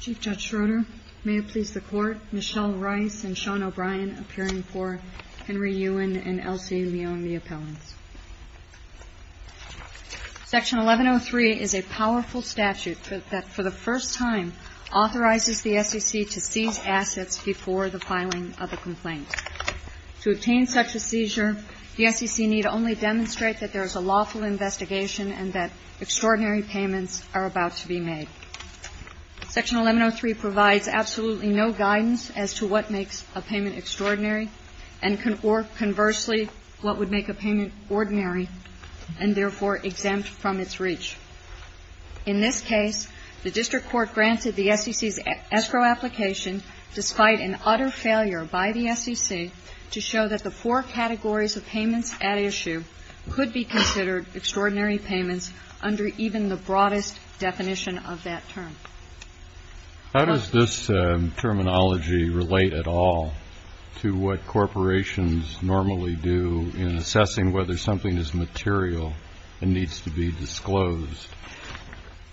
Chief Judge Schroeder, may it please the Court, Michelle Rice and Sean O'Brien appearing for Henry Yuen and Elsie Mione, the appellants. Section 1103 is a powerful statute that for the first time authorizes the SEC to seize assets before the filing of a complaint. To obtain such a seizure, the SEC need only demonstrate that there is a lawful investigation and that extraordinary payments are about to be made. Section 1103 provides absolutely no guidance as to what makes a payment extraordinary and conversely what would make a payment ordinary and therefore exempt from its reach. In this case, the District Court granted the SEC's escrow application, despite an utter failure by the SEC, to show that the four categories of payments at issue could be considered extraordinary payments under even the broadest definition of that term. How does this terminology relate at all to what corporations normally do in assessing whether something is material and needs to be disclosed?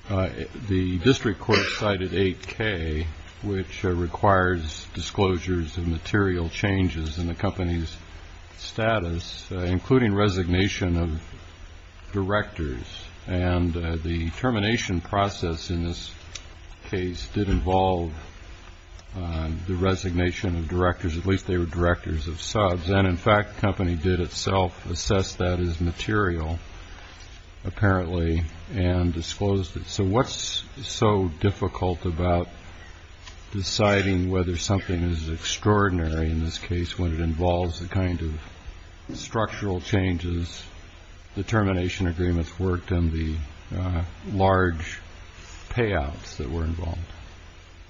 The District Court cited 8K, which requires disclosures of material changes in the company's status, including resignation of directors. And the termination process in this case did involve the resignation of directors, at least they were directors of subs. And in fact, the company did itself assess that as material, apparently, and disclosed it. So what's so difficult about deciding whether something is extraordinary in this case when it involves the kind of structural changes, the termination agreements worked, and the large payouts that were involved?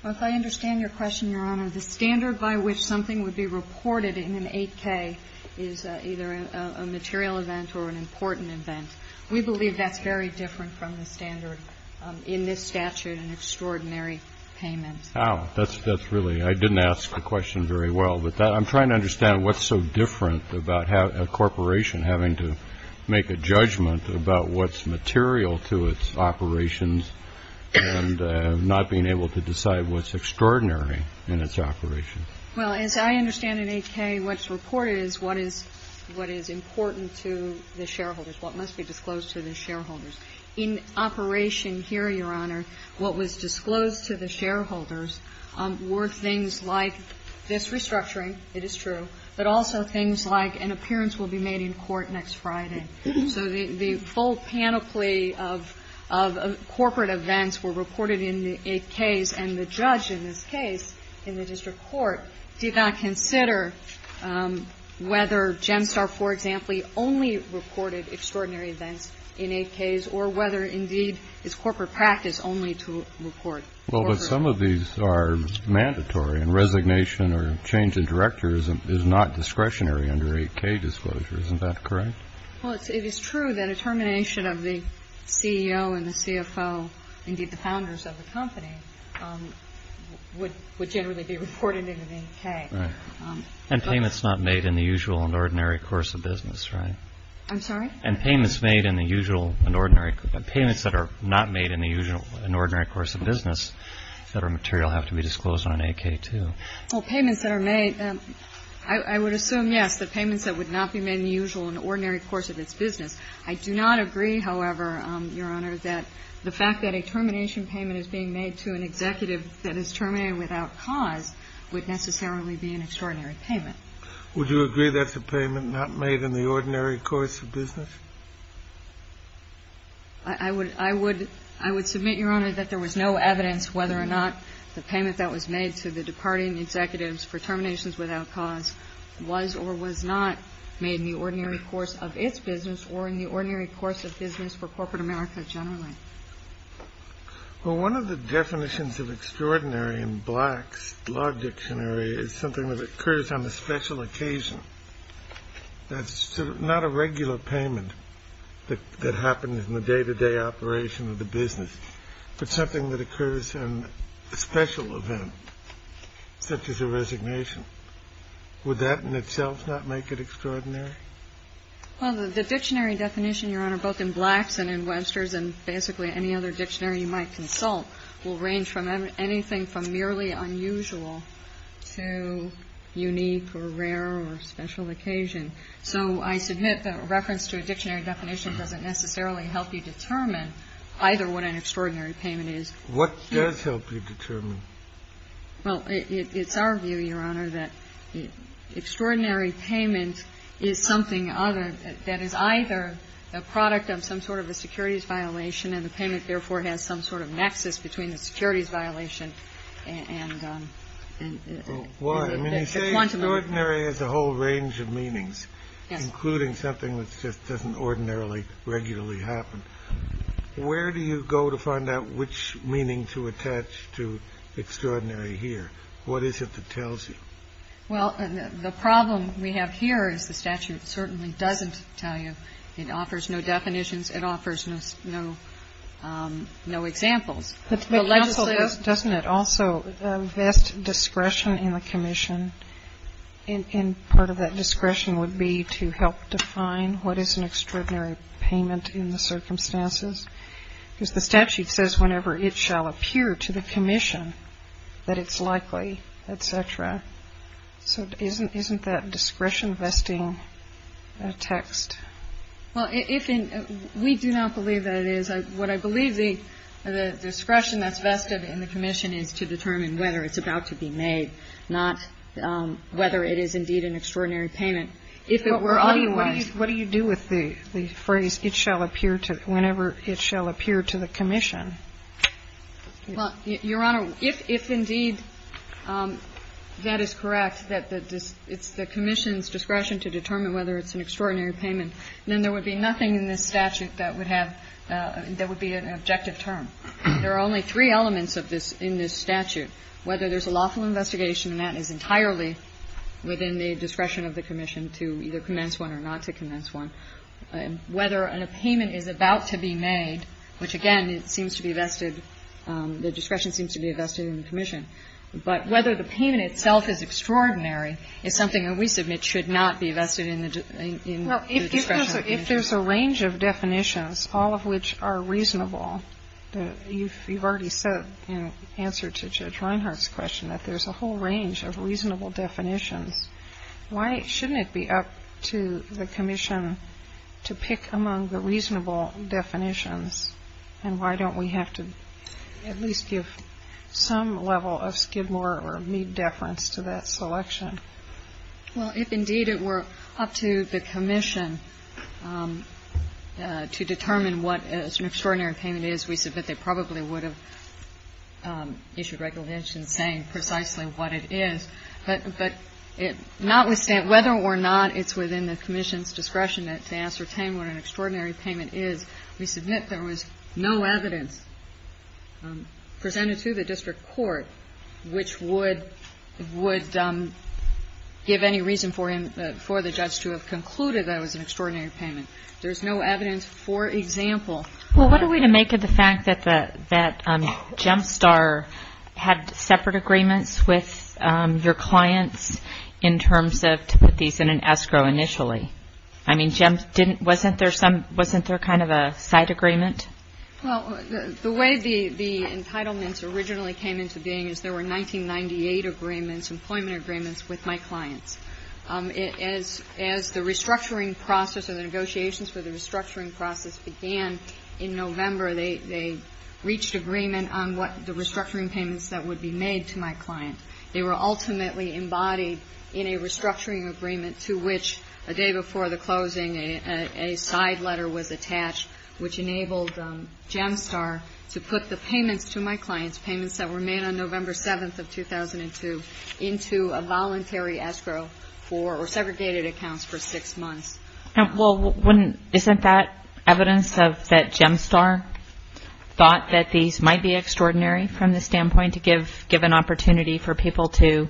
Well, if I understand your question, Your Honor, the standard by which something would be reported in an 8K is either a material event or an important event. We believe that's very different from the standard in this statute, an extraordinary payment. Oh, that's really — I didn't ask the question very well. But I'm trying to understand what's so different about a corporation having to make a judgment about what's material to its operations and not being able to decide what's extraordinary in its operations. Well, as I understand in 8K, what's reported is what is important to the shareholders, what must be disclosed to the shareholders. In operation here, Your Honor, what was disclosed to the shareholders were things like this restructuring. It is true. But also things like an appearance will be made in court next Friday. Okay. So the full panoply of corporate events were reported in the 8Ks, and the judge in this case, in the district court, did not consider whether GEMSTAR, for example, only reported extraordinary events in 8Ks or whether, indeed, it's corporate practice only to report corporate events. Well, but some of these are mandatory, and resignation or change in director is not discretionary under 8K disclosure. Isn't that correct? Well, it is true that a termination of the CEO and the CFO, indeed the founders of the company, would generally be reported in an 8K. Right. And payments not made in the usual and ordinary course of business, right? I'm sorry? And payments made in the usual and ordinary – payments that are not made in the usual and ordinary course of business that are material have to be disclosed on an 8K, too. Well, payments that are made, I would assume, yes, the payments that would not be made in the usual and ordinary course of its business. I do not agree, however, Your Honor, that the fact that a termination payment is being made to an executive that is terminated without cause would necessarily be an extraordinary payment. Would you agree that's a payment not made in the ordinary course of business? I would submit, Your Honor, that there was no evidence whether or not the payment that was made to the departing executives for terminations without cause was or was not made in the ordinary course of its business or in the ordinary course of business for corporate America generally. Well, one of the definitions of extraordinary in Black's Law Dictionary is something that occurs on a special occasion. That's not a regular payment that happens in the day-to-day operation of the business, but something that occurs in a special event, such as a resignation. Would that in itself not make it extraordinary? Well, the dictionary definition, Your Honor, both in Black's and in Webster's and basically any other dictionary you might consult will range from anything from merely unusual to unique or rare or special occasion. So I submit that a reference to a dictionary definition doesn't necessarily help you determine either what an extraordinary payment is. What does help you determine? Well, it's our view, Your Honor, that extraordinary payment is something other that is either a product of some sort of a securities violation and the payment therefore has some sort of nexus between the securities violation and the quantum of it. Why? I mean, you say extraordinary has a whole range of meanings, including something that just doesn't ordinarily regularly happen. Where do you go to find out which meaning to attach to extraordinary here? What is it that tells you? Well, the problem we have here is the statute certainly doesn't tell you. It offers no definitions. It offers no examples. But counsel, doesn't it also invest discretion in the commission? And part of that discretion would be to help define what is an extraordinary payment in the circumstances. Because the statute says whenever it shall appear to the commission that it's likely, et cetera. So isn't that discretion vesting a text? Well, we do not believe that it is. What I believe the discretion that's vested in the commission is to determine whether it's about to be made, not whether it is indeed an extraordinary payment. If it were otherwise. What do you do with the phrase, it shall appear to, whenever it shall appear to the commission? Well, Your Honor, if indeed that is correct, that it's the commission's discretion to determine whether it's an extraordinary payment, then there would be nothing in this statute that would have, that would be an objective term. There are only three elements of this in this statute. Whether there's a lawful investigation, and that is entirely within the discretion of the commission to either commence one or not to commence one. Whether a payment is about to be made, which again, it seems to be vested, the discretion seems to be vested in the commission. But whether the payment itself is extraordinary is something that we submit should not be vested in the discretion of the commission. So if there's a range of definitions, all of which are reasonable, you've already said in answer to Judge Reinhart's question that there's a whole range of reasonable definitions. Why shouldn't it be up to the commission to pick among the reasonable definitions and why don't we have to at least give some level of skid more or need deference to that selection? Well, if indeed it were up to the commission to determine what an extraordinary payment is, we submit they probably would have issued regulations saying precisely what it is. But notwithstanding, whether or not it's within the commission's discretion to ascertain what an extraordinary payment is, we submit there was no evidence presented to the district court which would give any reason for the judge to have concluded that it was an extraordinary payment. There's no evidence, for example. Well, what are we to make of the fact that Gemstar had separate agreements with your clients in terms of to put these in an escrow initially? I mean, wasn't there kind of a side agreement? Well, the way the entitlements originally came into being is there were 1998 agreements, employment agreements with my clients. As the restructuring process or the negotiations for the restructuring process began in November, they reached agreement on what the restructuring payments that would be made to my client. They were ultimately embodied in a restructuring agreement to which a day before the restructuring agreement was made. And that's when I told Gemstar to put the payments to my clients, payments that were made on November 7th of 2002, into a voluntary escrow for or segregated accounts for six months. Well, isn't that evidence that Gemstar thought that these might be extraordinary from the standpoint to give an opportunity for people to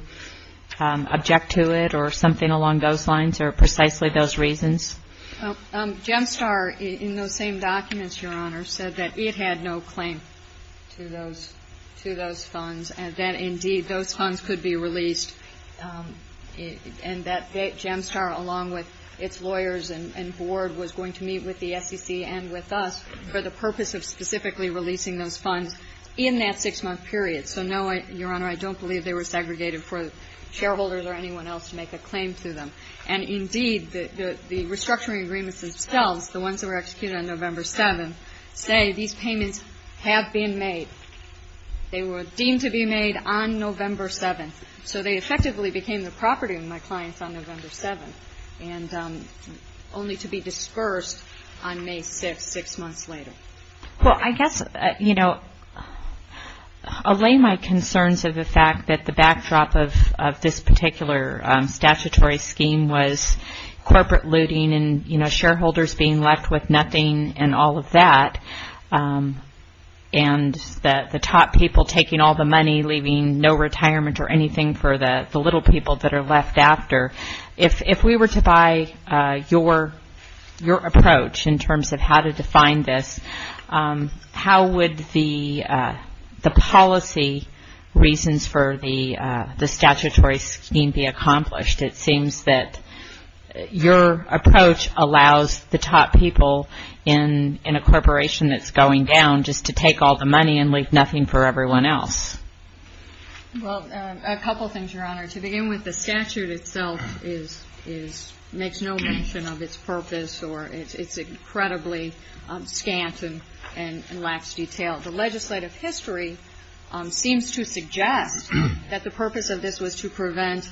object to it or something along those lines or precisely those reasons? Gemstar, in those same documents, Your Honor, said that it had no claim to those funds and that, indeed, those funds could be released and that Gemstar, along with its lawyers and board, was going to meet with the SEC and with us for the purpose of specifically releasing those funds in that six-month period. So, no, Your Honor, I don't believe they were segregated for shareholders or anyone else to make a claim to them. And, indeed, the restructuring agreements themselves, the ones that were executed on November 7th, say these payments have been made. They were deemed to be made on November 7th. So they effectively became the property of my clients on November 7th and only to be dispersed on May 6th, six months later. Well, I guess, you know, allay my concerns of the fact that the backdrop of this particular statutory scheme was corporate looting and, you know, shareholders being left with nothing and all of that, and the top people taking all the money, leaving no retirement or anything for the little people that are left after. If we were to buy your approach in terms of how to define this, how would the policy reasons for the statutory scheme be accomplished? It seems that your approach allows the top people in a corporation that's going down just to take all the money and leave nothing for everyone else. Well, a couple things, Your Honor. To begin with, the statute itself makes no mention of its purpose, or it's incredibly scant and lacks detail. The legislative history seems to suggest that the purpose of this was to prevent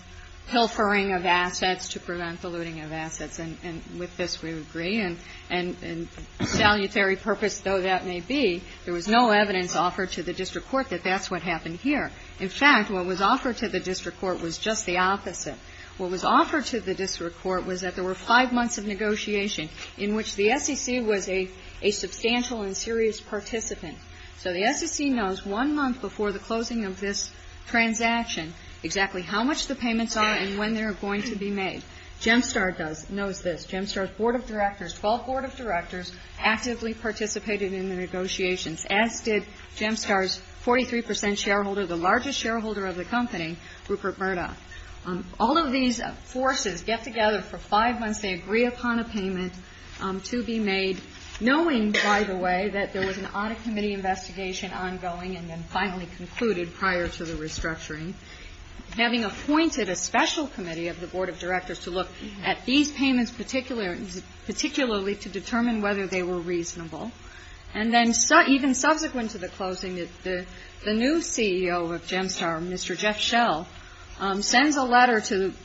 pilfering of assets, to prevent the looting of assets. And with this, we would agree. And salutary purpose, though that may be, there was no evidence offered to the district court that that's what happened here. In fact, what was offered to the district court was just the opposite. What was offered to the district court was that there were five months of negotiation in which the SEC was a substantial and serious participant. So the SEC knows one month before the closing of this transaction exactly how much the payments are and when they're going to be made. GEMSTAR knows this. GEMSTAR's board of directors, 12 board of directors actively participated in the negotiations, as did GEMSTAR's 43 percent shareholder, the largest shareholder of the company, Rupert Murdoch. All of these forces get together for five months. They agree upon a payment to be made, knowing, by the way, that there was an audit committee investigation ongoing and then finally concluded prior to the restructuring, having appointed a special committee of the board of directors to look at these payments particularly to determine whether they were reasonable. And then even subsequent to the closing, the new CEO of GEMSTAR, Mr. Jeff Schell, sends a letter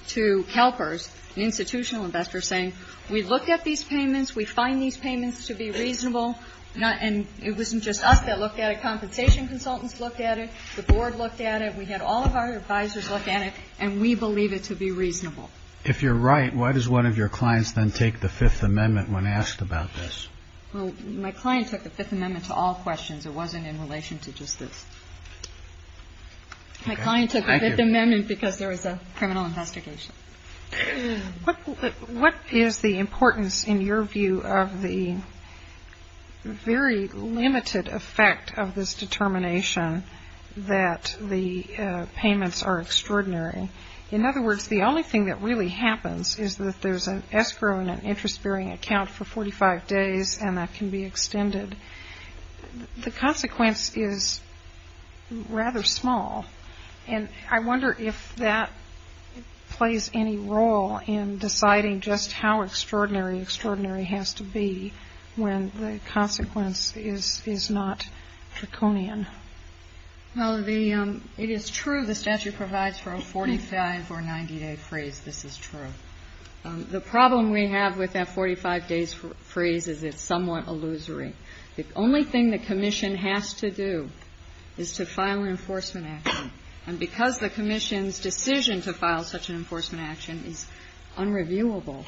to CalPERS, an institutional investor, saying, we looked at these payments, we find these payments to be reasonable, and it wasn't just us that looked at it. Compensation consultants looked at it. The board looked at it. We had all of our advisors look at it, and we believe it to be reasonable. If you're right, why does one of your clients then take the Fifth Amendment when asked about this? Well, my client took the Fifth Amendment to all questions. It wasn't in relation to just this. My client took the Fifth Amendment because there was a criminal investigation. What is the importance, in your view, of the very limited effect of this determination that the payments are extraordinary? In other words, the only thing that really happens is that there's an escrow and an interest-bearing account for 45 days, and that can be extended. The consequence is rather small, and I wonder if that plays any role in deciding just how extraordinary extraordinary has to be when the consequence is not draconian. Well, it is true the statute provides for a 45- or 90-day freeze. This is true. The problem we have with that 45-days freeze is it's somewhat illusory. The only thing the commission has to do is to file an enforcement action, and because the commission's decision to file such an enforcement action is unreviewable,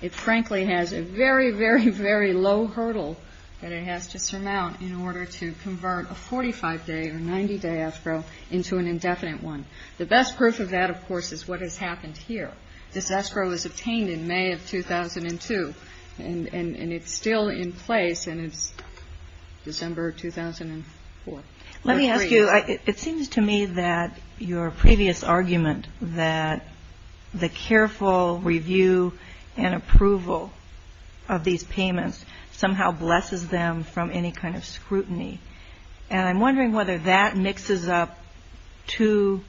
it frankly has a very, very, very low hurdle that it has to surmount in order to convert a 45-day or 90-day escrow into an indefinite one. The best proof of that, of course, is what has happened here. This escrow was obtained in May of 2002, and it's still in place, and it's December 2004. Let me ask you. It seems to me that your previous argument that the careful review and approval of these payments somehow blesses them from any kind of scrutiny, and I'm wondering whether that mixes up two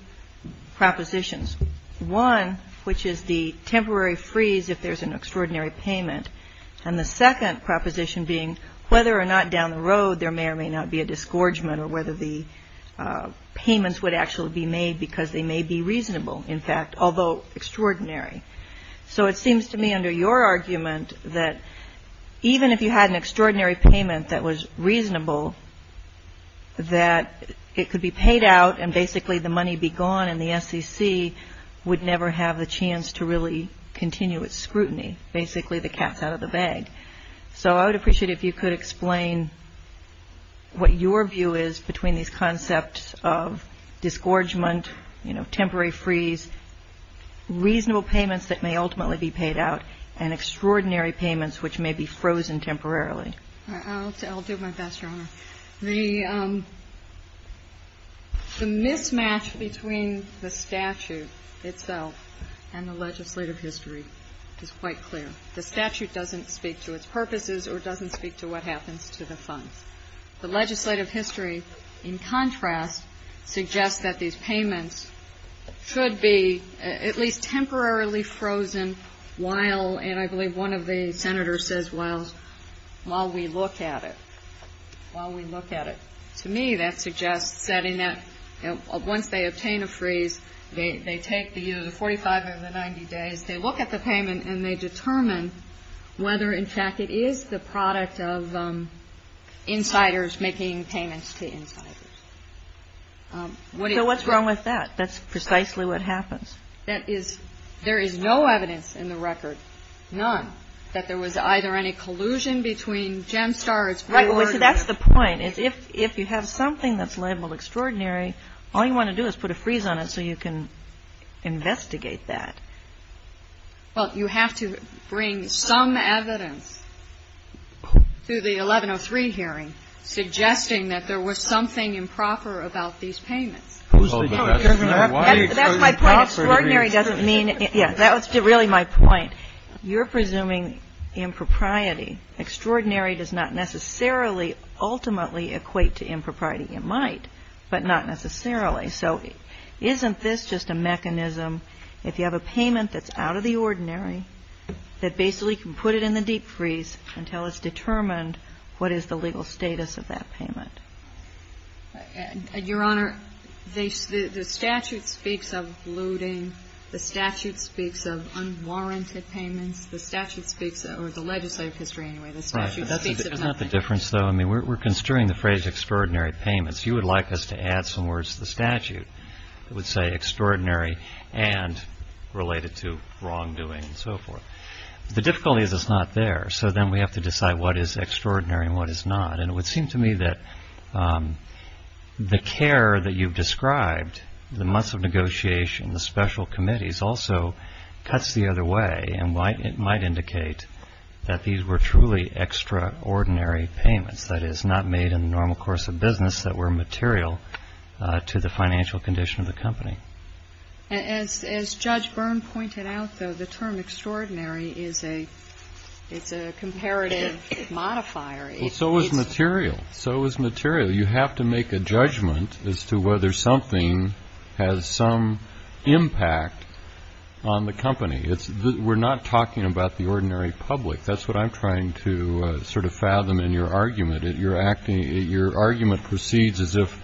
propositions, one, which is the temporary freeze if there's an extraordinary payment, and the second proposition being whether or not down the road there may or may not be a disgorgement or whether the payments would actually be made because they may be reasonable, in fact, although extraordinary. So it seems to me under your argument that even if you had an extraordinary payment that was reasonable, that it could be paid out and basically the money be gone and the SEC would never have the chance to really continue its scrutiny, basically the cat's out of the bag. So I would appreciate if you could explain what your view is between these concepts of disgorgement, you know, temporary freeze, reasonable payments that may ultimately be paid out, and extraordinary payments which may be frozen temporarily. All right. I'll do my best, Your Honor. The mismatch between the statute itself and the legislative history is quite clear. The statute doesn't speak to its purposes or doesn't speak to what happens to the funds. The legislative history, in contrast, suggests that these payments should be at least While we look at it. To me, that suggests setting that once they obtain a freeze, they take the 45 or the 90 days, they look at the payment and they determine whether, in fact, it is the product of insiders making payments to insiders. So what's wrong with that? That's precisely what happens. That is, there is no evidence in the record, none, that there was either any collusion between GEMSTAR or That's the point. If you have something that's labeled extraordinary, all you want to do is put a freeze on it so you can investigate that. Well, you have to bring some evidence to the 1103 hearing suggesting that there was something improper about these payments. That's my point. Extraordinary doesn't mean yes. That was really my point. You're presuming impropriety. Extraordinary does not necessarily ultimately equate to impropriety. It might, but not necessarily. So isn't this just a mechanism, if you have a payment that's out of the ordinary, that basically can put it in the deep freeze until it's determined what is the legal status of that payment? Your Honor, the statute speaks of looting. The statute speaks of unwarranted payments. The statute speaks, or the legislative history anyway, the statute speaks of nothing. Right. But that's not the difference, though. I mean, we're construing the phrase extraordinary payments. You would like us to add some words to the statute that would say extraordinary and related to wrongdoing and so forth. The difficulty is it's not there. So then we have to decide what is extraordinary and what is not. And it would seem to me that the care that you've described, the months of negotiation, the special committees, also cuts the other way and might indicate that these were truly extraordinary payments, that is, not made in the normal course of business, that were material to the financial condition of the company. As Judge Byrne pointed out, though, the term extraordinary is a comparative modifier. So is material. So is material. You have to make a judgment as to whether something has some impact on the company. We're not talking about the ordinary public. That's what I'm trying to sort of fathom in your argument. Your argument proceeds as if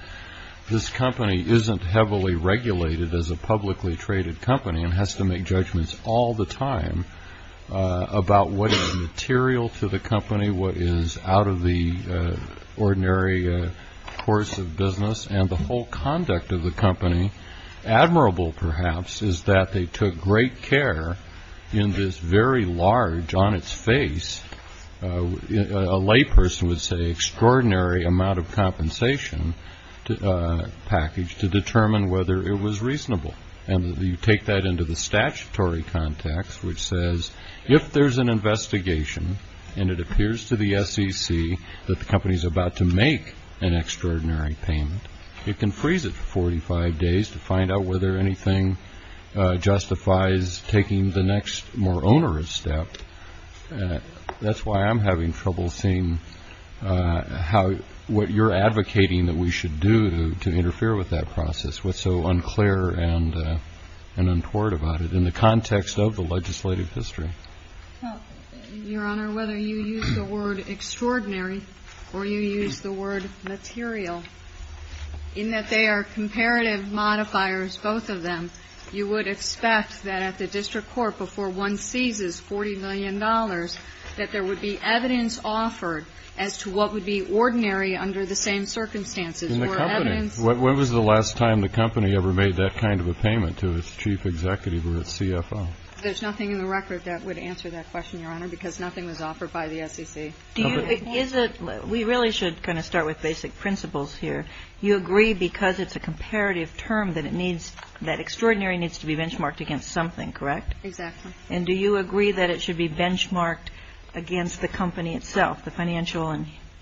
this company isn't heavily regulated as a publicly traded company and has to make judgments all the time about what is material to the company, what is out of the ordinary course of business. And the whole conduct of the company, admirable perhaps, is that they took great care in this very large, on its face, a layperson would say, extraordinary amount of compensation package to determine whether it was reasonable. And you take that into the statutory context, which says if there's an investigation and it appears to the SEC that the company is about to make an extraordinary payment, it can freeze it for 45 days to find out whether anything justifies taking the next more onerous step. That's why I'm having trouble seeing what you're advocating that we should do to interfere with that process. What's so unclear and untoward about it in the context of the legislative history? Your Honor, whether you use the word extraordinary or you use the word material, in that they are comparative modifiers, both of them, you would expect that at the district court before one seizes $40 million, that there would be evidence offered as to what would be ordinary under the same circumstances. When was the last time the company ever made that kind of a payment to its chief executive or its CFO? There's nothing in the record that would answer that question, Your Honor, because nothing was offered by the SEC. We really should kind of start with basic principles here. You agree because it's a comparative term that it needs, that extraordinary needs to be benchmarked against something, correct? Exactly. And do you agree that it should be benchmarked against the company itself, the financial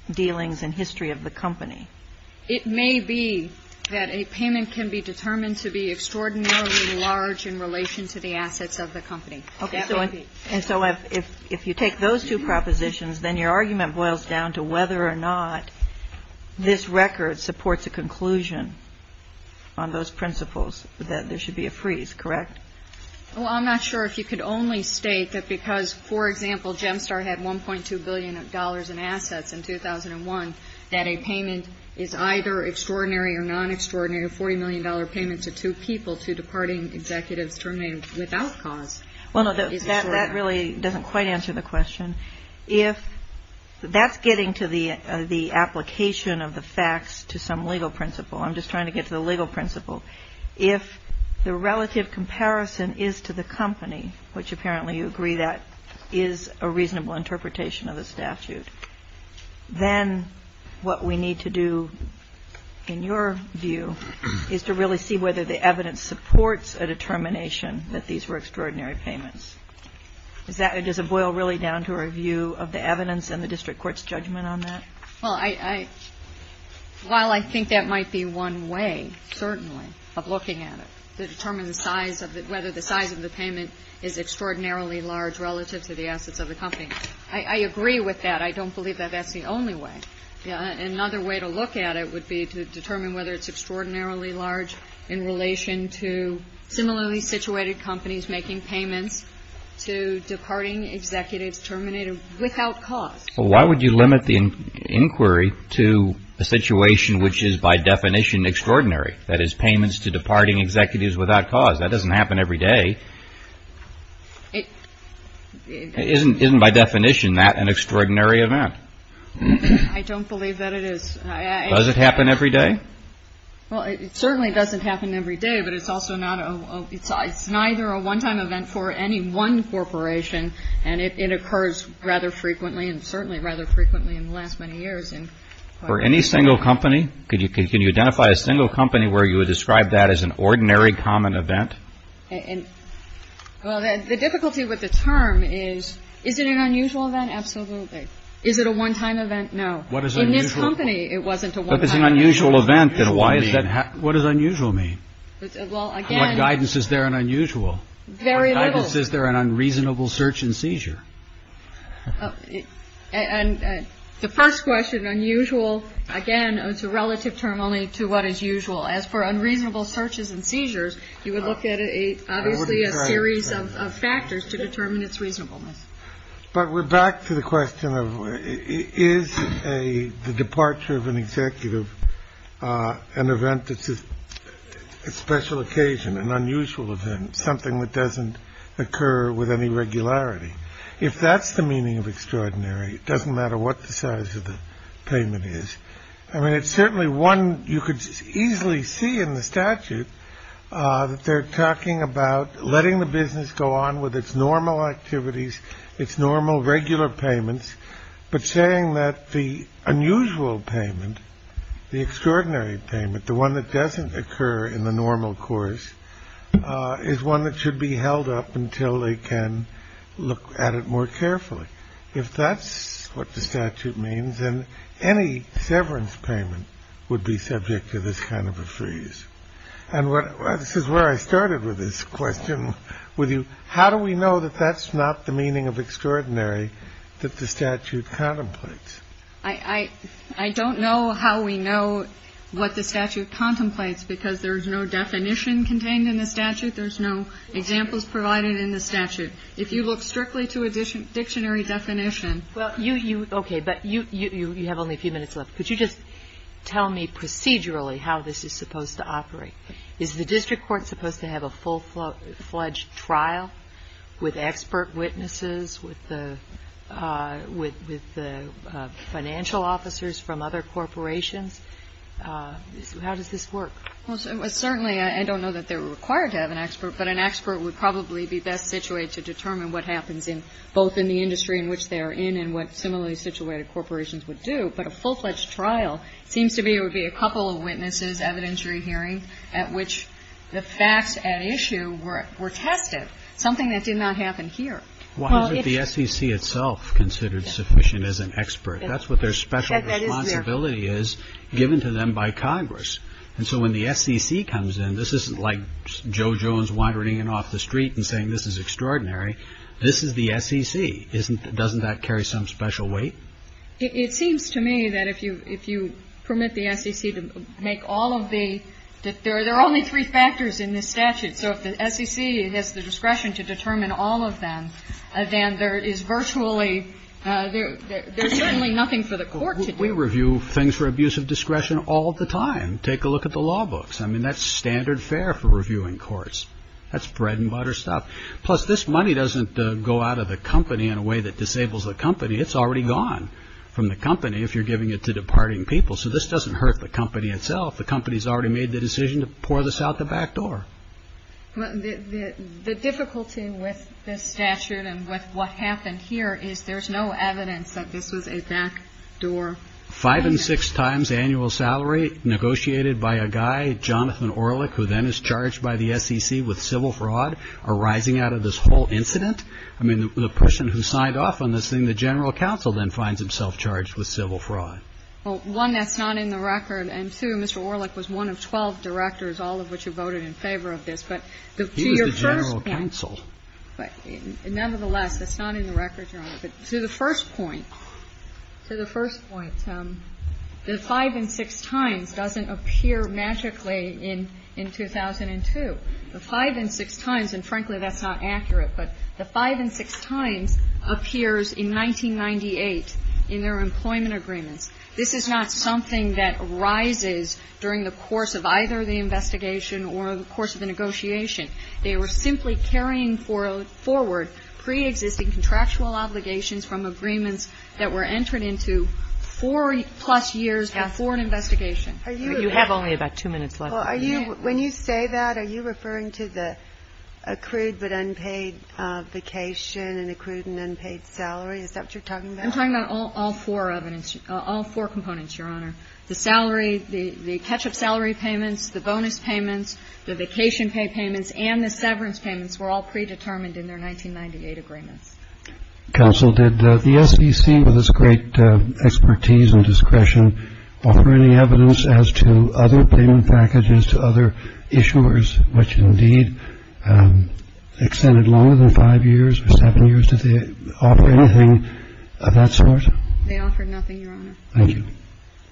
dealings and history of the company? It may be that a payment can be determined to be extraordinarily large in relation to the assets of the company. Okay. And so if you take those two propositions, then your argument boils down to whether or not this record supports a conclusion on those principles that there should be a freeze, correct? Well, I'm not sure if you could only state that because, for example, Gemstar had $1.2 billion in assets in 2001, that a payment is either extraordinary or non-extraordinary, a $40 million payment to two people to departing executives terminated without cause. Well, no, that really doesn't quite answer the question. If that's getting to the application of the facts to some legal principle, I'm just trying to get to the legal principle. If the relative comparison is to the company, which apparently you agree that is a reasonable interpretation of the statute, then what we need to do, in your view, is to really see whether the evidence supports a determination that these were extraordinary payments. Does it boil really down to a review of the evidence and the district court's judgment on that? Well, while I think that might be one way, certainly, of looking at it to determine whether the size of the payment is extraordinarily large relative to the assets of the company. I agree with that. I don't believe that that's the only way. Another way to look at it would be to determine whether it's extraordinarily large in relation to similarly situated companies making payments to departing executives terminated without cause. Well, why would you limit the inquiry to a situation which is by definition extraordinary, that is payments to departing executives without cause? That doesn't happen every day. Isn't by definition that an extraordinary event? I don't believe that it is. Does it happen every day? Well, it certainly doesn't happen every day, but it's neither a one-time event for any one corporation, and it occurs rather frequently and certainly rather frequently in the last many years. For any single company? Can you identify a single company where you would describe that as an ordinary common event? Well, the difficulty with the term is, is it an unusual event? Absolutely. Is it a one-time event? No. In this company, it wasn't a one-time event. If it's an unusual event, then what does unusual mean? Very little. What guidance is there in unreasonable search and seizure? And the first question, unusual, again, it's a relative term only to what is usual as for unreasonable searches and seizures. You would look at a series of factors to determine its reasonableness. But we're back to the question of is a departure of an executive, an event that's a special occasion, an unusual event, something that doesn't occur with any regularity. If that's the meaning of extraordinary, it doesn't matter what the size of the payment is. I mean, it's certainly one you could easily see in the statute that they're talking about letting the business go on with its normal activities, its normal regular payments, but saying that the unusual payment, the extraordinary payment, the one that doesn't occur in the normal course, is one that should be held up until they can look at it more carefully. If that's what the statute means, then any severance payment would be subject to this kind of a freeze. And this is where I started with this question with you. How do we know that that's not the meaning of extraordinary that the statute contemplates? I don't know how we know what the statute contemplates because there's no definition contained in the statute. There's no examples provided in the statute. If you look strictly to a dictionary definition. Well, you, okay, but you have only a few minutes left. Could you just tell me procedurally how this is supposed to operate? Is the district court supposed to have a full-fledged trial with expert witnesses, with the financial officers from other corporations? How does this work? Well, certainly, I don't know that they're required to have an expert, but an expert would probably be best situated to determine what happens in both in the industry in which they are in and what similarly situated corporations would do. But a full-fledged trial seems to be it would be a couple of witnesses, evidentiary hearings at which the facts at issue were tested, something that did not happen here. Well, isn't the SEC itself considered sufficient as an expert? That's what their special responsibility is. It's given to them by Congress. And so when the SEC comes in, this isn't like Joe Jones wandering in off the street and saying this is extraordinary. This is the SEC. Doesn't that carry some special weight? It seems to me that if you permit the SEC to make all of the – there are only three factors in this statute. So if the SEC has the discretion to determine all of them, then there is virtually – there's certainly nothing for the court to do. We review things for abuse of discretion all the time. Take a look at the law books. I mean, that's standard fare for reviewing courts. That's bread-and-butter stuff. Plus, this money doesn't go out of the company in a way that disables the company. It's already gone from the company if you're giving it to departing people. So this doesn't hurt the company itself. The company's already made the decision to pour this out the back door. The difficulty with this statute and with what happened here is there's no evidence that this was a back door payment. Five and six times annual salary negotiated by a guy, Jonathan Orlik, who then is charged by the SEC with civil fraud arising out of this whole incident? I mean, the person who signed off on this thing, the general counsel then finds himself charged with civil fraud. Well, one, that's not in the record. And, two, Mr. Orlik was one of 12 directors, all of which have voted in favor of this. But to your first – He was the general counsel. But nevertheless, that's not in the records, Your Honor. But to the first point, to the first point, the five and six times doesn't appear magically in 2002. The five and six times, and frankly, that's not accurate, but the five and six times appears in 1998 in their employment agreements. This is not something that arises during the course of either the investigation or the course of the negotiation. They were simply carrying forward preexisting contractual obligations from agreements that were entered into four-plus years before an investigation. You have only about two minutes left. Well, are you – when you say that, are you referring to the accrued but unpaid vacation and accrued and unpaid salary? Is that what you're talking about? I'm talking about all four of them, all four components, Your Honor. The salary, the catch-up salary payments, the bonus payments, the vacation pay payments, and the severance payments were all predetermined in their 1998 agreements. Counsel, did the SBC, with its great expertise and discretion, offer any evidence as to other payment packages to other issuers, which indeed extended longer than five years or seven years? Did they offer anything of that sort? They offered nothing, Your Honor. Thank you.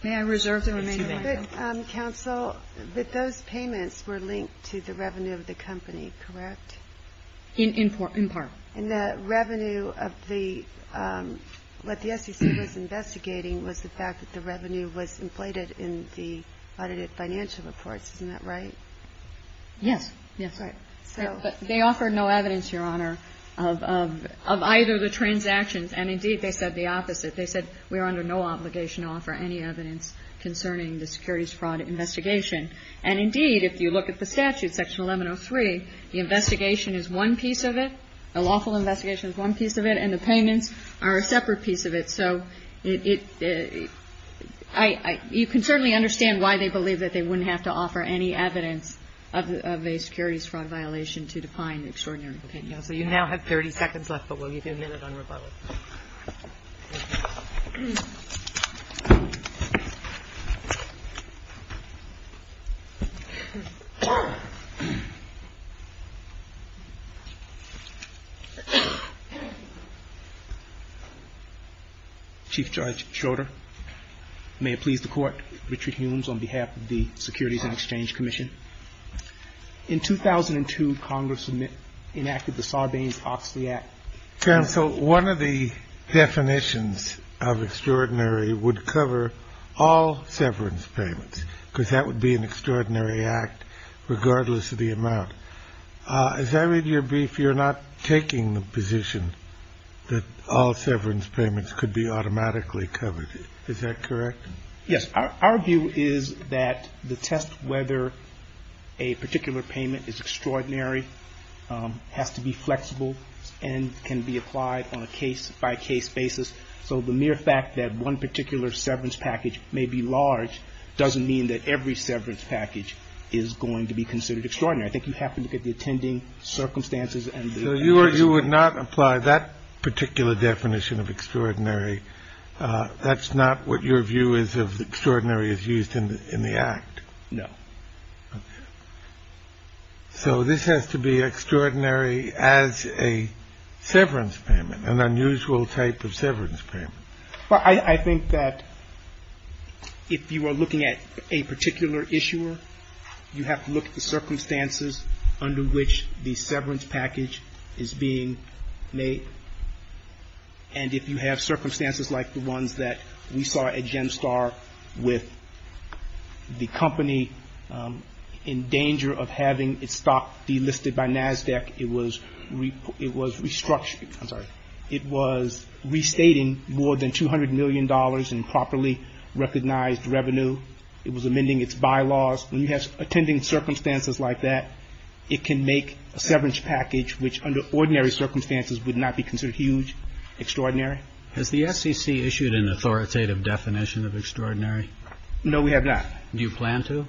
May I reserve the remaining time? Counsel, but those payments were linked to the revenue of the company, correct? In part. And the revenue of the – what the SEC was investigating was the fact that the revenue was inflated in the audited financial reports. Isn't that right? Yes. Yes. But they offered no evidence, Your Honor, of either of the transactions. And indeed, they said the opposite. They said we are under no obligation to offer any evidence concerning the securities fraud investigation. And indeed, if you look at the statute, Section 1103, the investigation is one piece of it, a lawful investigation is one piece of it, and the payments are a separate piece of it. So it – you can certainly understand why they believe that they wouldn't have to offer any evidence of a securities fraud violation to define extraordinary payments. Okay. Counsel, you now have 30 seconds left, but we'll leave you a minute on rebuttal. Chief Judge Schroeder, may it please the Court. Richard Humes on behalf of the Securities and Exchange Commission. In 2002, Congress enacted the Sarbanes-Oxley Act. Counsel, one of the definitions of extraordinary would cover all severance payments because that would be an extraordinary act regardless of the amount. As I read your brief, you're not taking the position that all severance payments could be automatically covered. Is that correct? Yes. Our view is that the test whether a particular payment is extraordinary has to be a case-by-case basis. So the mere fact that one particular severance package may be large doesn't mean that every severance package is going to be considered extraordinary. I think you happen to get the attending circumstances and the case. So you would not apply that particular definition of extraordinary. That's not what your view is of extraordinary as used in the Act. No. So this has to be extraordinary as a severance payment, an unusual type of severance payment. Well, I think that if you are looking at a particular issuer, you have to look at the circumstances under which the severance package is being made. And if you have circumstances like the ones that we saw at Gemstar with the company in danger of having its stock delisted by NASDAQ, it was restructuring. I'm sorry. It was restating more than $200 million in properly recognized revenue. It was amending its bylaws. When you have attending circumstances like that, it can make a severance package, which under ordinary circumstances would not be considered huge, extraordinary. Has the SEC issued an authoritative definition of extraordinary? No, we have not. Do you plan to?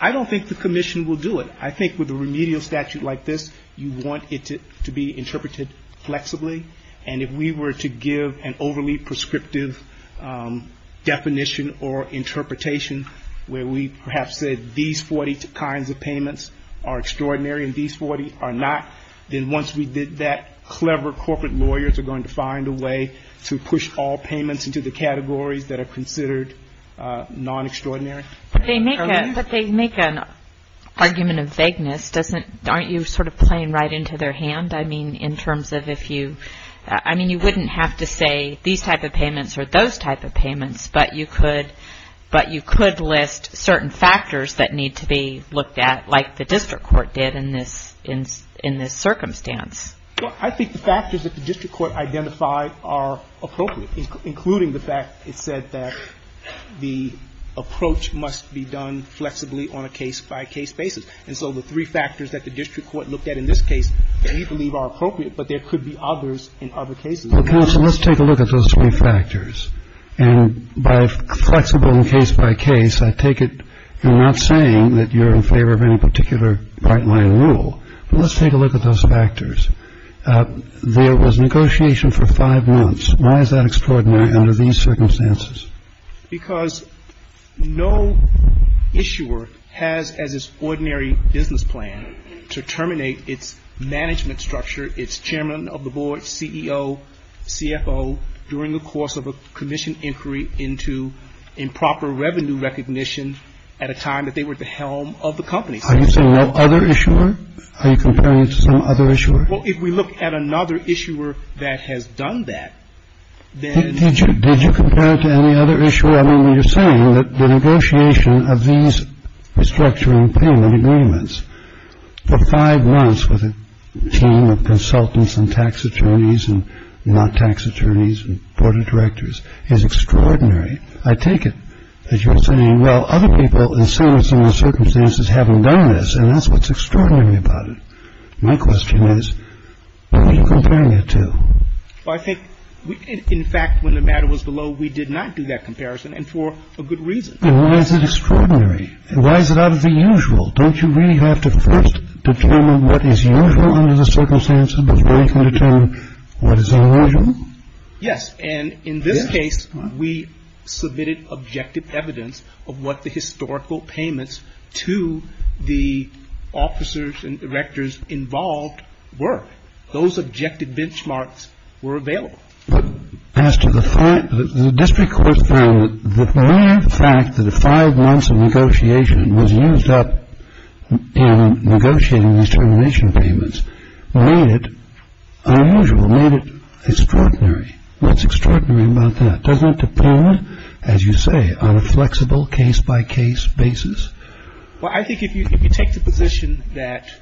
I don't think the Commission will do it. I think with a remedial statute like this, you want it to be interpreted flexibly. And if we were to give an overly prescriptive definition or interpretation where we perhaps said these 40 kinds of payments are extraordinary and these 40 are not, then once we did that, clever corporate lawyers are going to find a way to push all payments into the categories that are considered non-extraordinary. But they make an argument of vagueness. Aren't you sort of playing right into their hand? I mean, in terms of if you – I mean, you wouldn't have to say these type of payments or those type of payments, but you could list certain factors that need to be looked at like the district court did in this circumstance. Well, I think the factors that the district court identified are appropriate, including the fact it said that the approach must be done flexibly on a case-by-case basis. And so the three factors that the district court looked at in this case we believe are appropriate, but there could be others in other cases. Well, counsel, let's take a look at those three factors. And by flexible and case-by-case, I take it you're not saying that you're in favor of any particular Bright Line rule. Let's take a look at those factors. There was negotiation for five months. Why is that extraordinary under these circumstances? Because no issuer has as its ordinary business plan to terminate its management structure, its chairman of the board, CEO, CFO, during the course of a commission inquiry into improper revenue recognition at a time that they were at the helm of the company. Are you saying no other issuer? Are you comparing it to some other issuer? Well, if we look at another issuer that has done that, then — Did you compare it to any other issuer? I mean, you're saying that the negotiation of these restructuring payment agreements for five months with a team of consultants and tax attorneys and not tax attorneys and board of directors is extraordinary. I take it that you're saying, well, other people in similar circumstances haven't done this, and that's what's extraordinary about it. My question is, what are you comparing it to? Well, I think, in fact, when the matter was below, we did not do that comparison and for a good reason. Then why is it extraordinary? Why is it out of the usual? Don't you really have to first determine what is usual under the circumstances before you can determine what is unusual? Yes. And in this case, we submitted objective evidence of what the historical payments to the officers and directors involved were. Those objective benchmarks were available. But as to the fact that the district court found that the mere fact that five months of negotiation was used up in negotiating these termination payments made it unusual, made it extraordinary. What's extraordinary about that? Doesn't it depend, as you say, on a flexible case-by-case basis? Well, I think if you take the position that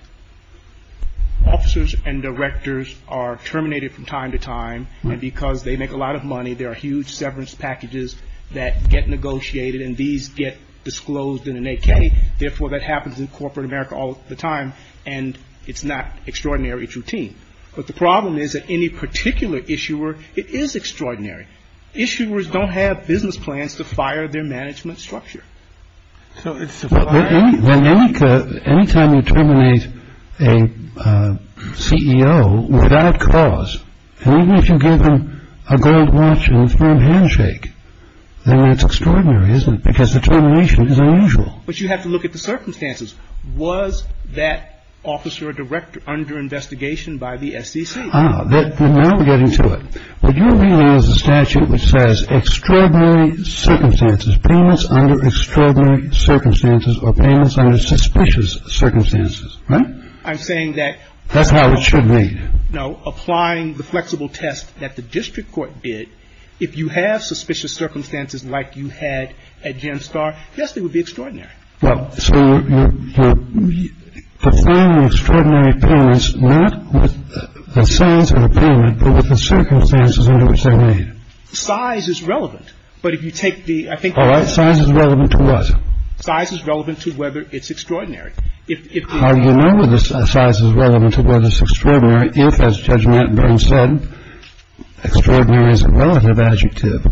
officers and directors are terminated from time to time and because they make a lot of money, there are huge severance packages that get negotiated and these get disclosed in an AK. Therefore, that happens in corporate America all the time, and it's not extraordinary routine. But the problem is that any particular issuer, it is extraordinary. Issuers don't have business plans to fire their management structure. So it's a violation. Well, any time you terminate a CEO without cause, and even if you give them a gold watch and a firm handshake, then that's extraordinary, isn't it, because the termination is unusual. But you have to look at the circumstances. Was that officer or director under investigation by the SEC? Now we're getting to it. What you're reading is a statute which says extraordinary circumstances, payments under extraordinary circumstances or payments under suspicious circumstances. Right? I'm saying that. That's how it should read. No. Applying the flexible test that the district court did, if you have suspicious circumstances like you had at GenStar, yes, they would be extraordinary. Well, so you're defining extraordinary payments not with the size of the payment, but with the circumstances under which they're made. Size is relevant. But if you take the — All right. Size is relevant to what? Size is relevant to whether it's extraordinary. How do you know whether size is relevant to whether it's extraordinary if, as Judge Matt Burns said, extraordinary is a relative adjective?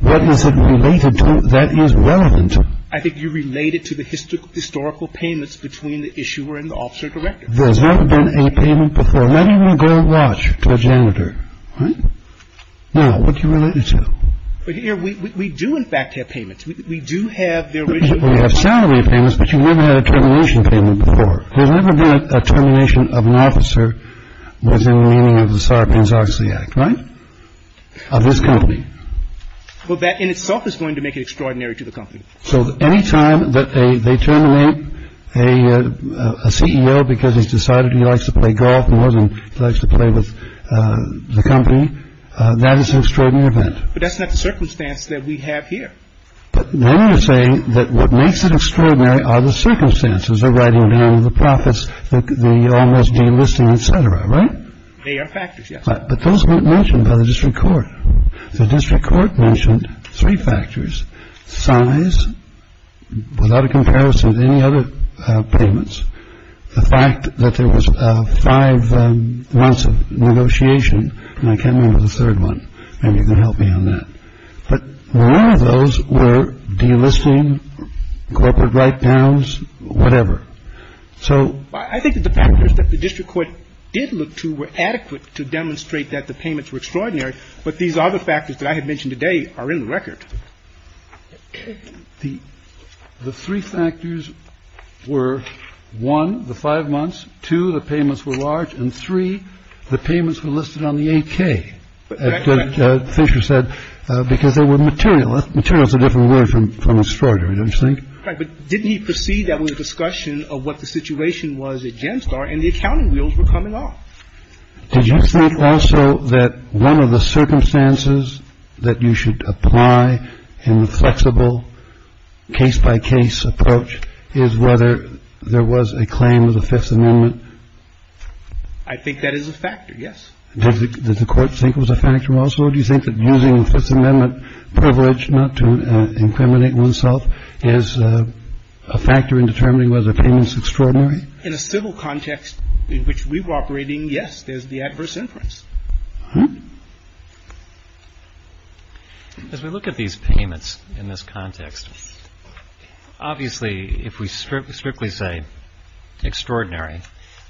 What is it related to that is relevant? I think you relate it to the historical payments between the issuer and the officer-director. There's never been a payment before. Not even a gold watch to a janitor. Right? Now, what do you relate it to? We do, in fact, have payments. We do have the original payment. We have salary payments, but you've never had a termination payment before. There's never been a termination of an officer within the meaning of the Sarbanes-Oxley Act. Right? Of this company. Well, that in itself is going to make it extraordinary to the company. So any time that they terminate a CEO because he's decided he likes to play golf more than he likes to play with the company, that is an extraordinary event. But that's not the circumstance that we have here. But then you're saying that what makes it extraordinary are the circumstances. They're writing down the profits. They all must be enlisting, et cetera. Right? They are factors, yes. But those weren't mentioned by the district court. The district court mentioned three factors. Size, without a comparison to any other payments. The fact that there was five months of negotiation. And I can't remember the third one. Maybe you can help me on that. But none of those were delisting corporate write downs, whatever. I think that the factors that the district court did look to were adequate to demonstrate that the payments were extraordinary. But these other factors that I had mentioned today are in the record. The three factors were, one, the five months. Two, the payments were large. And three, the payments were listed on the 8K, as Fisher said, because they were material. Material is a different word from extraordinary, don't you think? Right. But didn't he proceed that with a discussion of what the situation was at Genstar, and the accounting wheels were coming off? Did you think also that one of the circumstances that you should apply in the flexible case-by-case approach is whether there was a claim to the Fifth Amendment? I think that is a factor, yes. Did the court think it was a factor also? Do you think that using the Fifth Amendment privilege not to incriminate oneself is a factor in determining whether the payment is extraordinary? In a civil context in which we were operating, yes, there's the adverse influence. As we look at these payments in this context, obviously, if we strictly say extraordinary,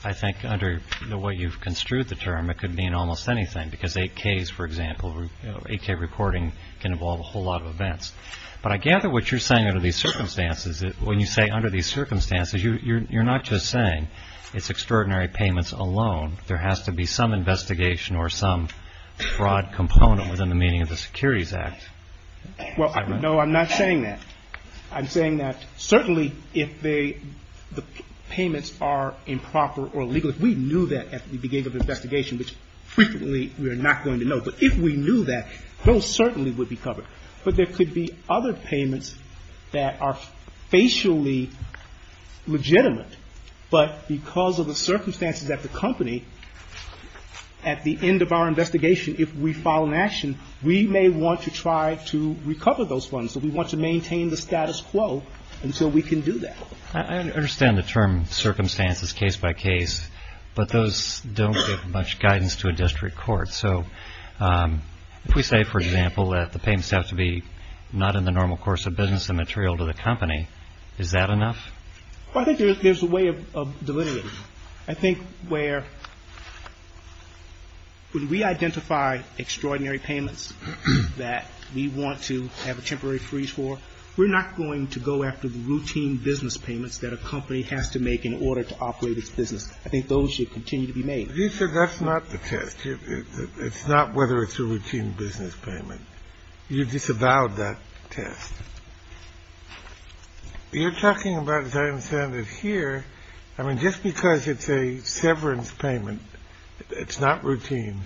I think under the way you've construed the term, it could mean almost anything, because 8Ks, for example, 8K reporting can involve a whole lot of events. But I gather what you're saying under these circumstances, when you say under these circumstances, you're not just saying it's extraordinary payments alone. There has to be some investigation or some fraud component within the meaning of the Securities Act. Well, no, I'm not saying that. I'm saying that certainly if the payments are improper or illegal, if we knew that at the beginning of the investigation, which frequently we are not going to know, but if we knew that, those certainly would be covered. But there could be other payments that are facially legitimate, but because of the circumstances at the company, at the end of our investigation, if we file an action, we may want to try to recover those funds. So we want to maintain the status quo until we can do that. I understand the term circumstances case by case, but those don't give much guidance to a district court. So if we say, for example, that the payments have to be not in the normal course of business and material to the company, is that enough? I think there's a way of delineating. I think where when we identify extraordinary payments that we want to have a temporary freeze for, we're not going to go after the routine business payments that a company has to make in order to operate its business. I think those should continue to be made. You said that's not the test. It's not whether it's a routine business payment. You disavowed that test. You're talking about, as I understand it here. I mean, just because it's a severance payment, it's not routine.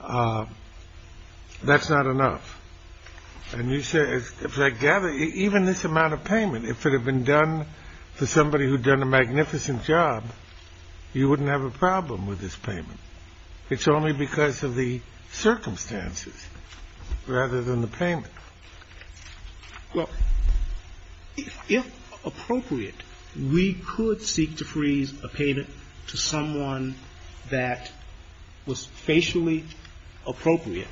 That's not enough. And you said, as I gather, even this amount of payment, if it had been done for somebody who'd done a magnificent job, you wouldn't have a problem with this payment. It's only because of the circumstances rather than the payment. Well, if appropriate, we could seek to freeze a payment to someone that was facially appropriate,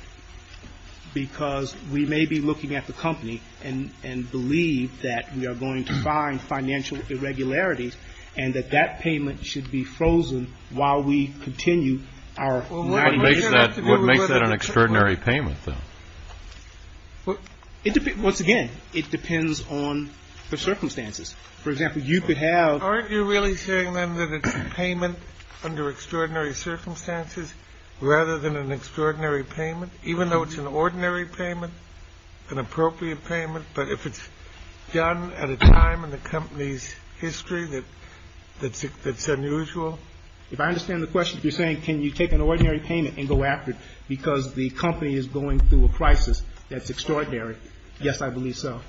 because we may be looking at the company and believe that we are going to find financial irregularities and that that payment should be frozen while we continue our. What makes that an extraordinary payment, though? Once again, it depends on the circumstances. For example, you could have. Aren't you really saying then that it's a payment under extraordinary circumstances rather than an extraordinary payment, even though it's an ordinary payment, an appropriate payment? But if it's done at a time in the company's history that that's unusual. If I understand the question, you're saying, can you take an ordinary payment and go after it because the company is going through a crisis that's extraordinary? Yes, I believe so.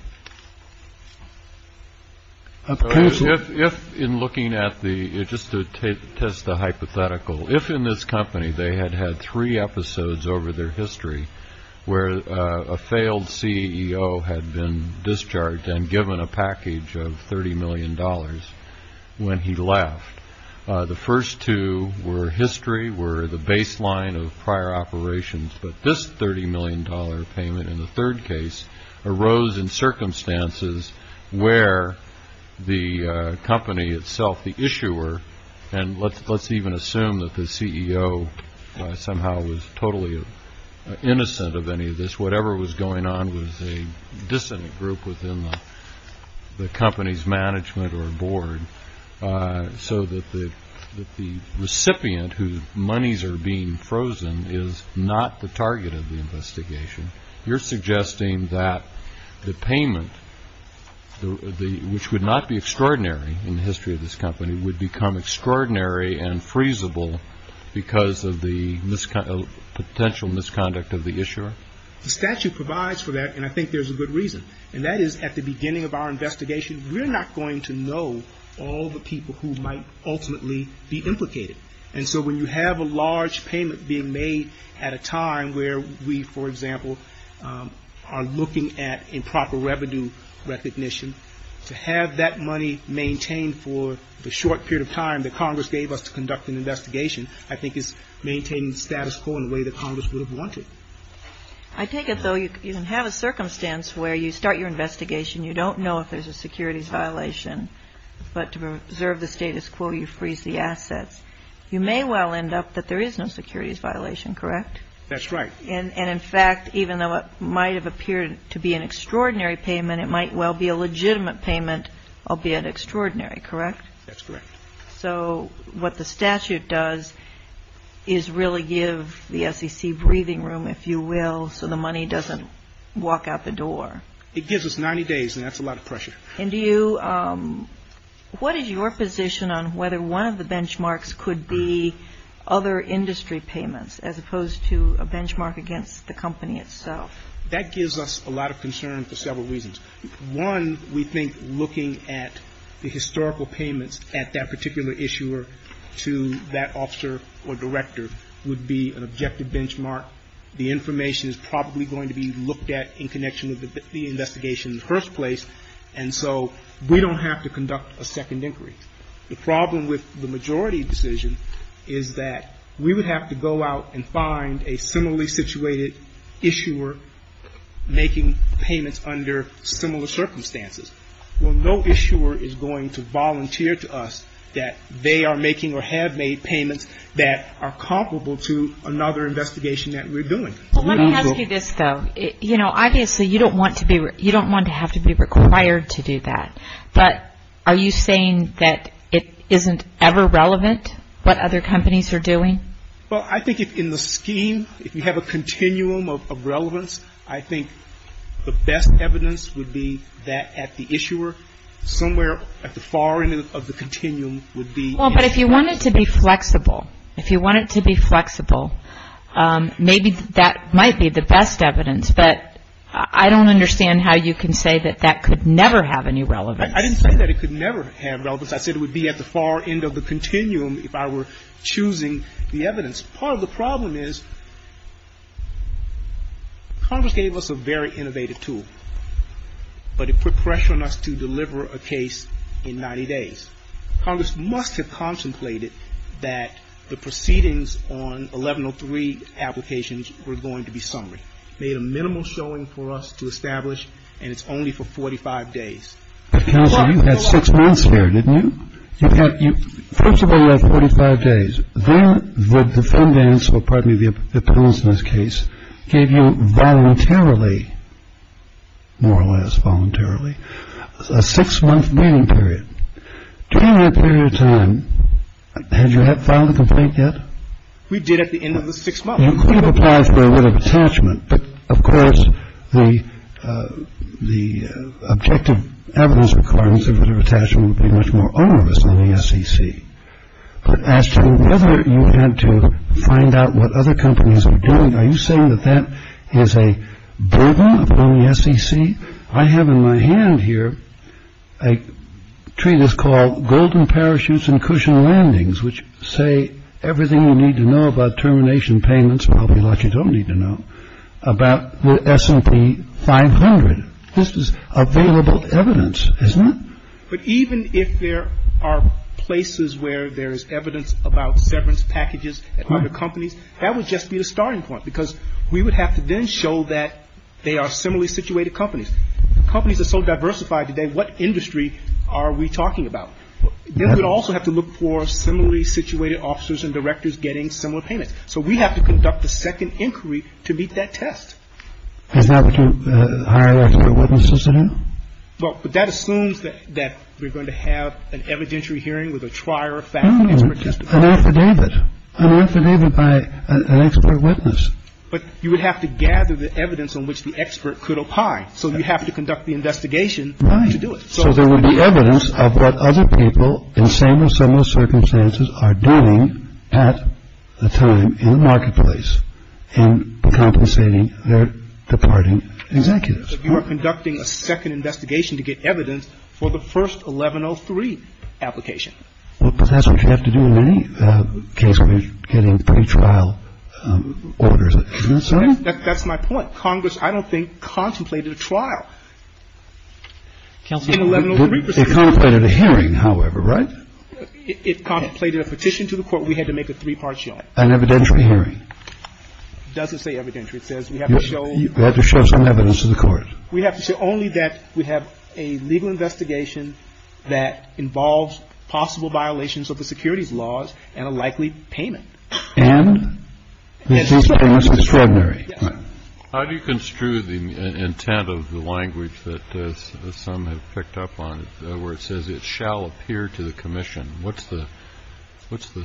If in looking at the just to test the hypothetical, if in this company they had had three episodes over their history where a failed CEO had been discharged and given a package of $30 million when he left, the first two were history were the baseline of prior operations. But this $30 million payment in the third case arose in circumstances where the company itself, the issuer. And let's let's even assume that the CEO somehow was totally innocent of any of this. Whatever was going on was a dissonant group within the company's management or board. So that the recipient whose monies are being frozen is not the target of the investigation. You're suggesting that the payment, which would not be extraordinary in the history of this company, would become extraordinary and freezable because of the potential misconduct of the issuer. The statute provides for that. And I think there's a good reason. And that is at the beginning of our investigation, we're not going to know all the people who might ultimately be implicated. And so when you have a large payment being made at a time where we, for example, are looking at improper revenue recognition, to have that money maintained for the short period of time that Congress gave us to conduct an investigation, I think is maintaining status quo in a way that Congress would have wanted. I take it, though, you can have a circumstance where you start your investigation, you don't know if there's a securities violation, but to preserve the status quo, you freeze the assets. You may well end up that there is no securities violation. Correct? That's right. And in fact, even though it might have appeared to be an extraordinary payment, it might well be a legitimate payment, albeit extraordinary. Correct? That's correct. So what the statute does is really give the SEC breathing room, if you will, so the money doesn't walk out the door. It gives us 90 days, and that's a lot of pressure. And do you – what is your position on whether one of the benchmarks could be other industry payments, as opposed to a benchmark against the company itself? That gives us a lot of concern for several reasons. One, we think looking at the historical payments at that particular issuer to that officer or director would be an objective benchmark. The information is probably going to be looked at in connection with the investigation in the first place, and so we don't have to conduct a second inquiry. The problem with the majority decision is that we would have to go out and find a similarly situated issuer making payments under similar circumstances. Well, no issuer is going to volunteer to us that they are making or have made payments that are comparable to another investigation that we're doing. Let me ask you this, though. You know, obviously you don't want to have to be required to do that, but are you saying that it isn't ever relevant what other companies are doing? Well, I think in the scheme, if you have a continuum of relevance, I think the best evidence would be that at the issuer, somewhere at the far end of the continuum would be. Well, but if you want it to be flexible, if you want it to be flexible, maybe that might be the best evidence, but I don't understand how you can say that that could never have any relevance. I didn't say that it could never have relevance. I said it would be at the far end of the continuum if I were choosing the evidence. Part of the problem is Congress gave us a very innovative tool, but it put pressure on us to deliver a case in 90 days. Congress must have contemplated that the proceedings on 1103 applications were going to be summary, made a minimal showing for us to establish, and it's only for 45 days. You had six months there, didn't you? First of all, you had 45 days. Then the defendants, or pardon me, the appellants in this case, gave you voluntarily, more or less voluntarily, a six-month waiting period. During that period of time, had you filed a complaint yet? We did at the end of the six months. You could have applied for a writ of attachment, but of course the objective evidence requirements of writ of attachment would be much more onerous than the SEC. But as to whether you had to find out what other companies were doing, are you saying that that is a burden upon the SEC? I have in my hand here a treatise called Golden Parachutes and Cushion Landings, which say everything you need to know about termination payments, probably a lot you don't need to know, about the S&P 500. This is available evidence, isn't it? But even if there are places where there is evidence about severance packages at other companies, that would just be the starting point because we would have to then show that they are similarly situated companies. Companies are so diversified today, what industry are we talking about? Then we'd also have to look for similarly situated officers and directors getting similar payments. So we have to conduct the second inquiry to meet that test. Is that what you hire expert witnesses to do? Well, but that assumes that we're going to have an evidentiary hearing with a trier of facts. An affidavit. An affidavit by an expert witness. But you would have to gather the evidence on which the expert could opine. So you have to conduct the investigation to do it. So there would be evidence of what other people in same or similar circumstances are doing at the time in the marketplace and compensating their departing executives. You are conducting a second investigation to get evidence for the first 1103 application. But that's what you have to do in any case where you're getting pretrial orders. That's my point. It contemplated a hearing, however, right? It contemplated a petition to the court. We had to make a three-part show. An evidentiary hearing. It doesn't say evidentiary. It says we have to show. We have to show some evidence to the court. We have to show only that we have a legal investigation that involves possible violations of the securities laws and a likely payment. And this is extraordinary. How do you construe the intent of the language that some have picked up on where it says it shall appear to the commission? What's the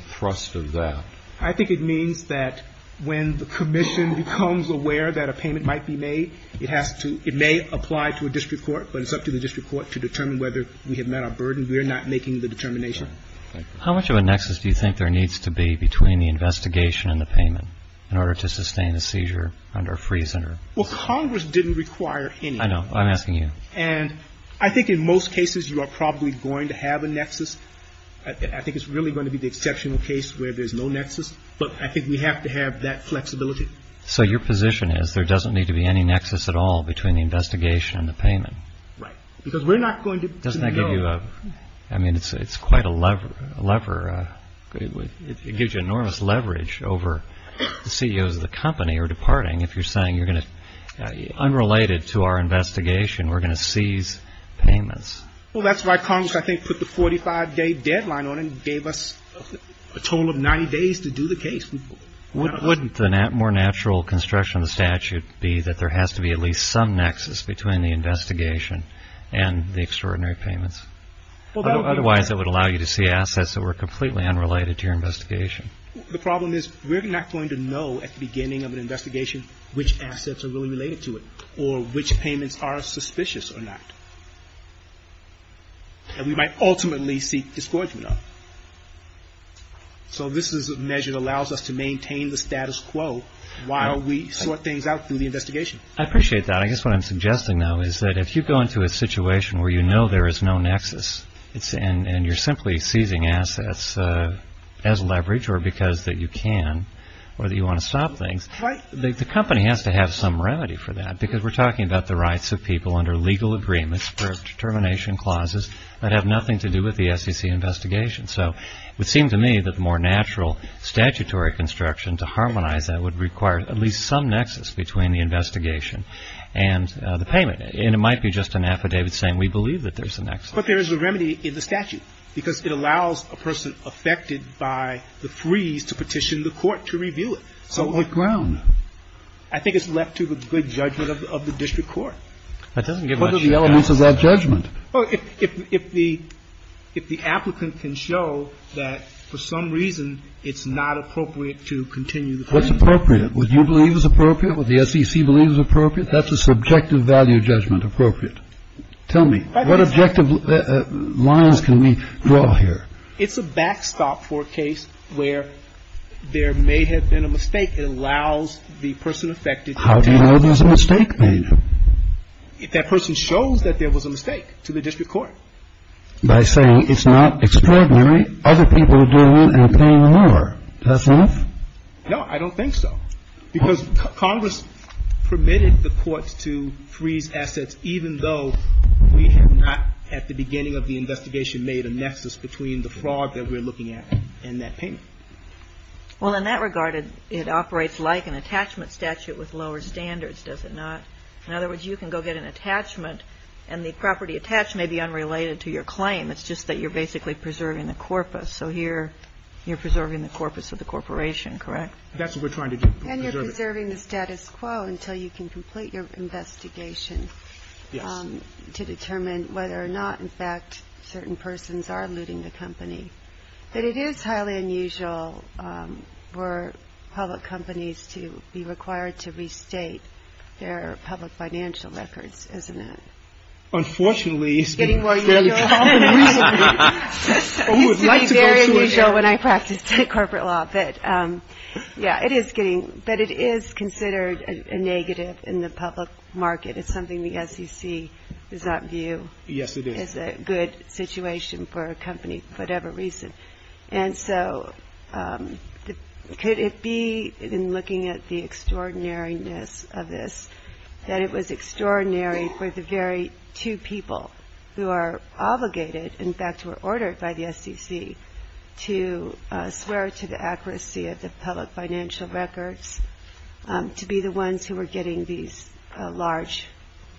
thrust of that? I think it means that when the commission becomes aware that a payment might be made, it has to ‑‑ it may apply to a district court, but it's up to the district court to determine whether we have met our burden. Thank you. How much of a nexus do you think there needs to be between the investigation and the payment in order to sustain a seizure under a freezer? Well, Congress didn't require any. I know. I'm asking you. And I think in most cases you are probably going to have a nexus. I think it's really going to be the exceptional case where there's no nexus. But I think we have to have that flexibility. So your position is there doesn't need to be any nexus at all between the investigation and the payment? Right. Because we're not going to know. I mean, it's quite a lever. It gives you enormous leverage over the CEOs of the company who are departing if you're saying you're going to ‑‑ unrelated to our investigation, we're going to seize payments. Well, that's why Congress, I think, put the 45-day deadline on it and gave us a total of 90 days to do the case. Wouldn't the more natural construction of the statute be that there has to be at least some nexus between the investigation and the payment? Otherwise, it would allow you to see assets that were completely unrelated to your investigation. The problem is we're not going to know at the beginning of an investigation which assets are really related to it or which payments are suspicious or not. And we might ultimately seek discouragement of it. So this is a measure that allows us to maintain the status quo while we sort things out through the investigation. I appreciate that. I guess what I'm suggesting, though, is that if you go into a situation where you know there is no nexus and you're simply seizing assets as leverage or because that you can or that you want to stop things, the company has to have some remedy for that because we're talking about the rights of people under legal agreements or determination clauses that have nothing to do with the SEC investigation. So it would seem to me that the more natural statutory construction to harmonize that would require at least some nexus between the investigation and the payment. And it might be just an affidavit saying we believe that there's a nexus. But there is a remedy in the statute because it allows a person affected by the freeze to petition the court to review it. So what ground? I think it's left to the good judgment of the district court. That doesn't give much evidence. What are the elements of that judgment? Well, if the applicant can show that for some reason it's not appropriate to continue the claim. What's appropriate? What you believe is appropriate? What the SEC believes is appropriate? That's a subjective value judgment, appropriate. Tell me, what objective lines can we draw here? It's a backstop for a case where there may have been a mistake. It allows the person affected to petition the court. How do you know there's a mistake made? That person shows that there was a mistake to the district court. By saying it's not extraordinary, other people are doing it and paying more. Is that enough? No, I don't think so. Because Congress permitted the courts to freeze assets even though we have not, at the beginning of the investigation, made a nexus between the fraud that we're looking at and that payment. Well, in that regard, it operates like an attachment statute with lower standards, does it not? In other words, you can go get an attachment and the property attached may be unrelated to your claim. It's just that you're basically preserving the corpus. So here you're preserving the corpus of the corporation, correct? That's what we're trying to do. And you're preserving the status quo until you can complete your investigation to determine whether or not, in fact, certain persons are looting the company. But it is highly unusual for public companies to be required to restate their public financial records, isn't it? Unfortunately, it's been fairly common recently. It used to be very unusual when I practiced corporate law. But, yeah, it is considered a negative in the public market. It's something the SEC does not view as a good situation for a company for whatever reason. And so could it be, in looking at the extraordinariness of this, that it was extraordinary for the very two people who are obligated, in fact, were ordered by the SEC to swear to the accuracy of the public financial records to be the ones who were getting these large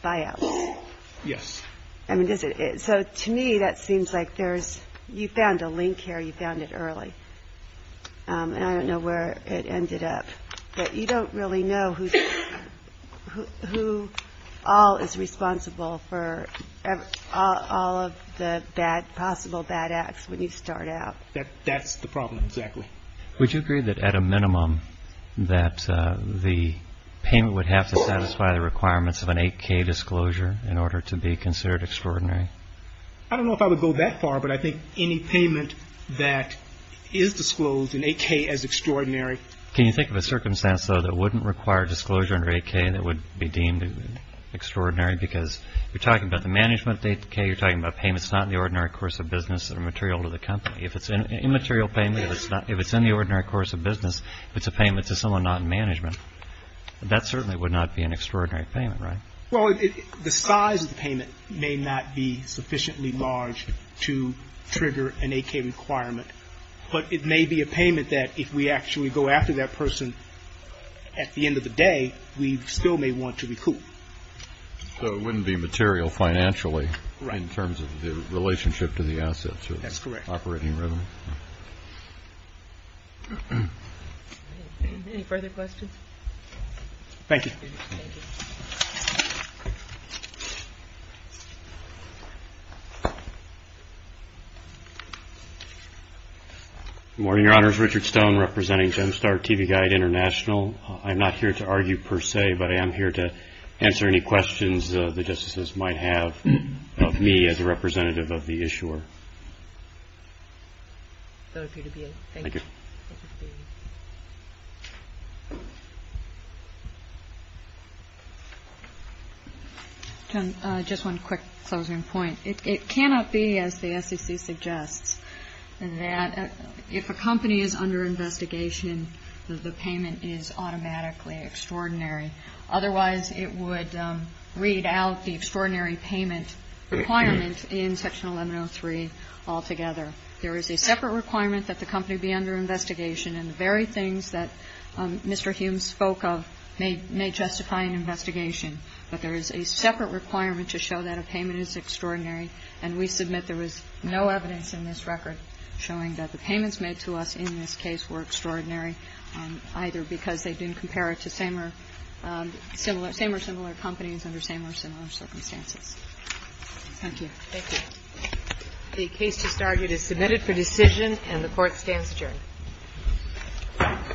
buyouts? Yes. So to me, that seems like there's you found a link here. You found it early. And I don't know where it ended up. But you don't really know who all is responsible for all of the possible bad acts when you start out. That's the problem, exactly. Would you agree that, at a minimum, that the payment would have to satisfy the requirements of an 8K disclosure in order to be considered extraordinary? I don't know if I would go that far, but I think any payment that is disclosed in 8K as extraordinary. Can you think of a circumstance, though, that wouldn't require disclosure under 8K that would be deemed extraordinary? Because you're talking about the management of the 8K. You're talking about payments not in the ordinary course of business that are material to the company. If it's an immaterial payment, if it's in the ordinary course of business, if it's a payment to someone not in management, that certainly would not be an extraordinary payment, right? Well, the size of the payment may not be sufficiently large to trigger an 8K requirement. But it may be a payment that if we actually go after that person at the end of the day, we still may want to recoup. So it wouldn't be material financially in terms of the relationship to the assets. That's correct. Operating rhythm. Any further questions? Thank you. Good morning, Your Honors. Richard Stone representing Gemstar TV Guide International. I'm not here to argue per se, but I am here to answer any questions the Justices might have of me as a representative of the issuer. Thank you. Just one quick closing point. It cannot be, as the SEC suggests, that if a company is under investigation, the payment is automatically extraordinary. Otherwise, it would read out the extraordinary payment requirement in Section 1103 altogether. There is a separate requirement that the company be under investigation, and the very things that Mr. Hume spoke of may justify an investigation. But there is a separate requirement to show that a payment is extraordinary, and we submit there was no evidence in this record showing that the payments made to us in this case were extraordinary, either because they didn't compare it to same or similar companies under same or similar circumstances. Thank you. Thank you. The case just argued is submitted for decision, and the Court stands adjourned.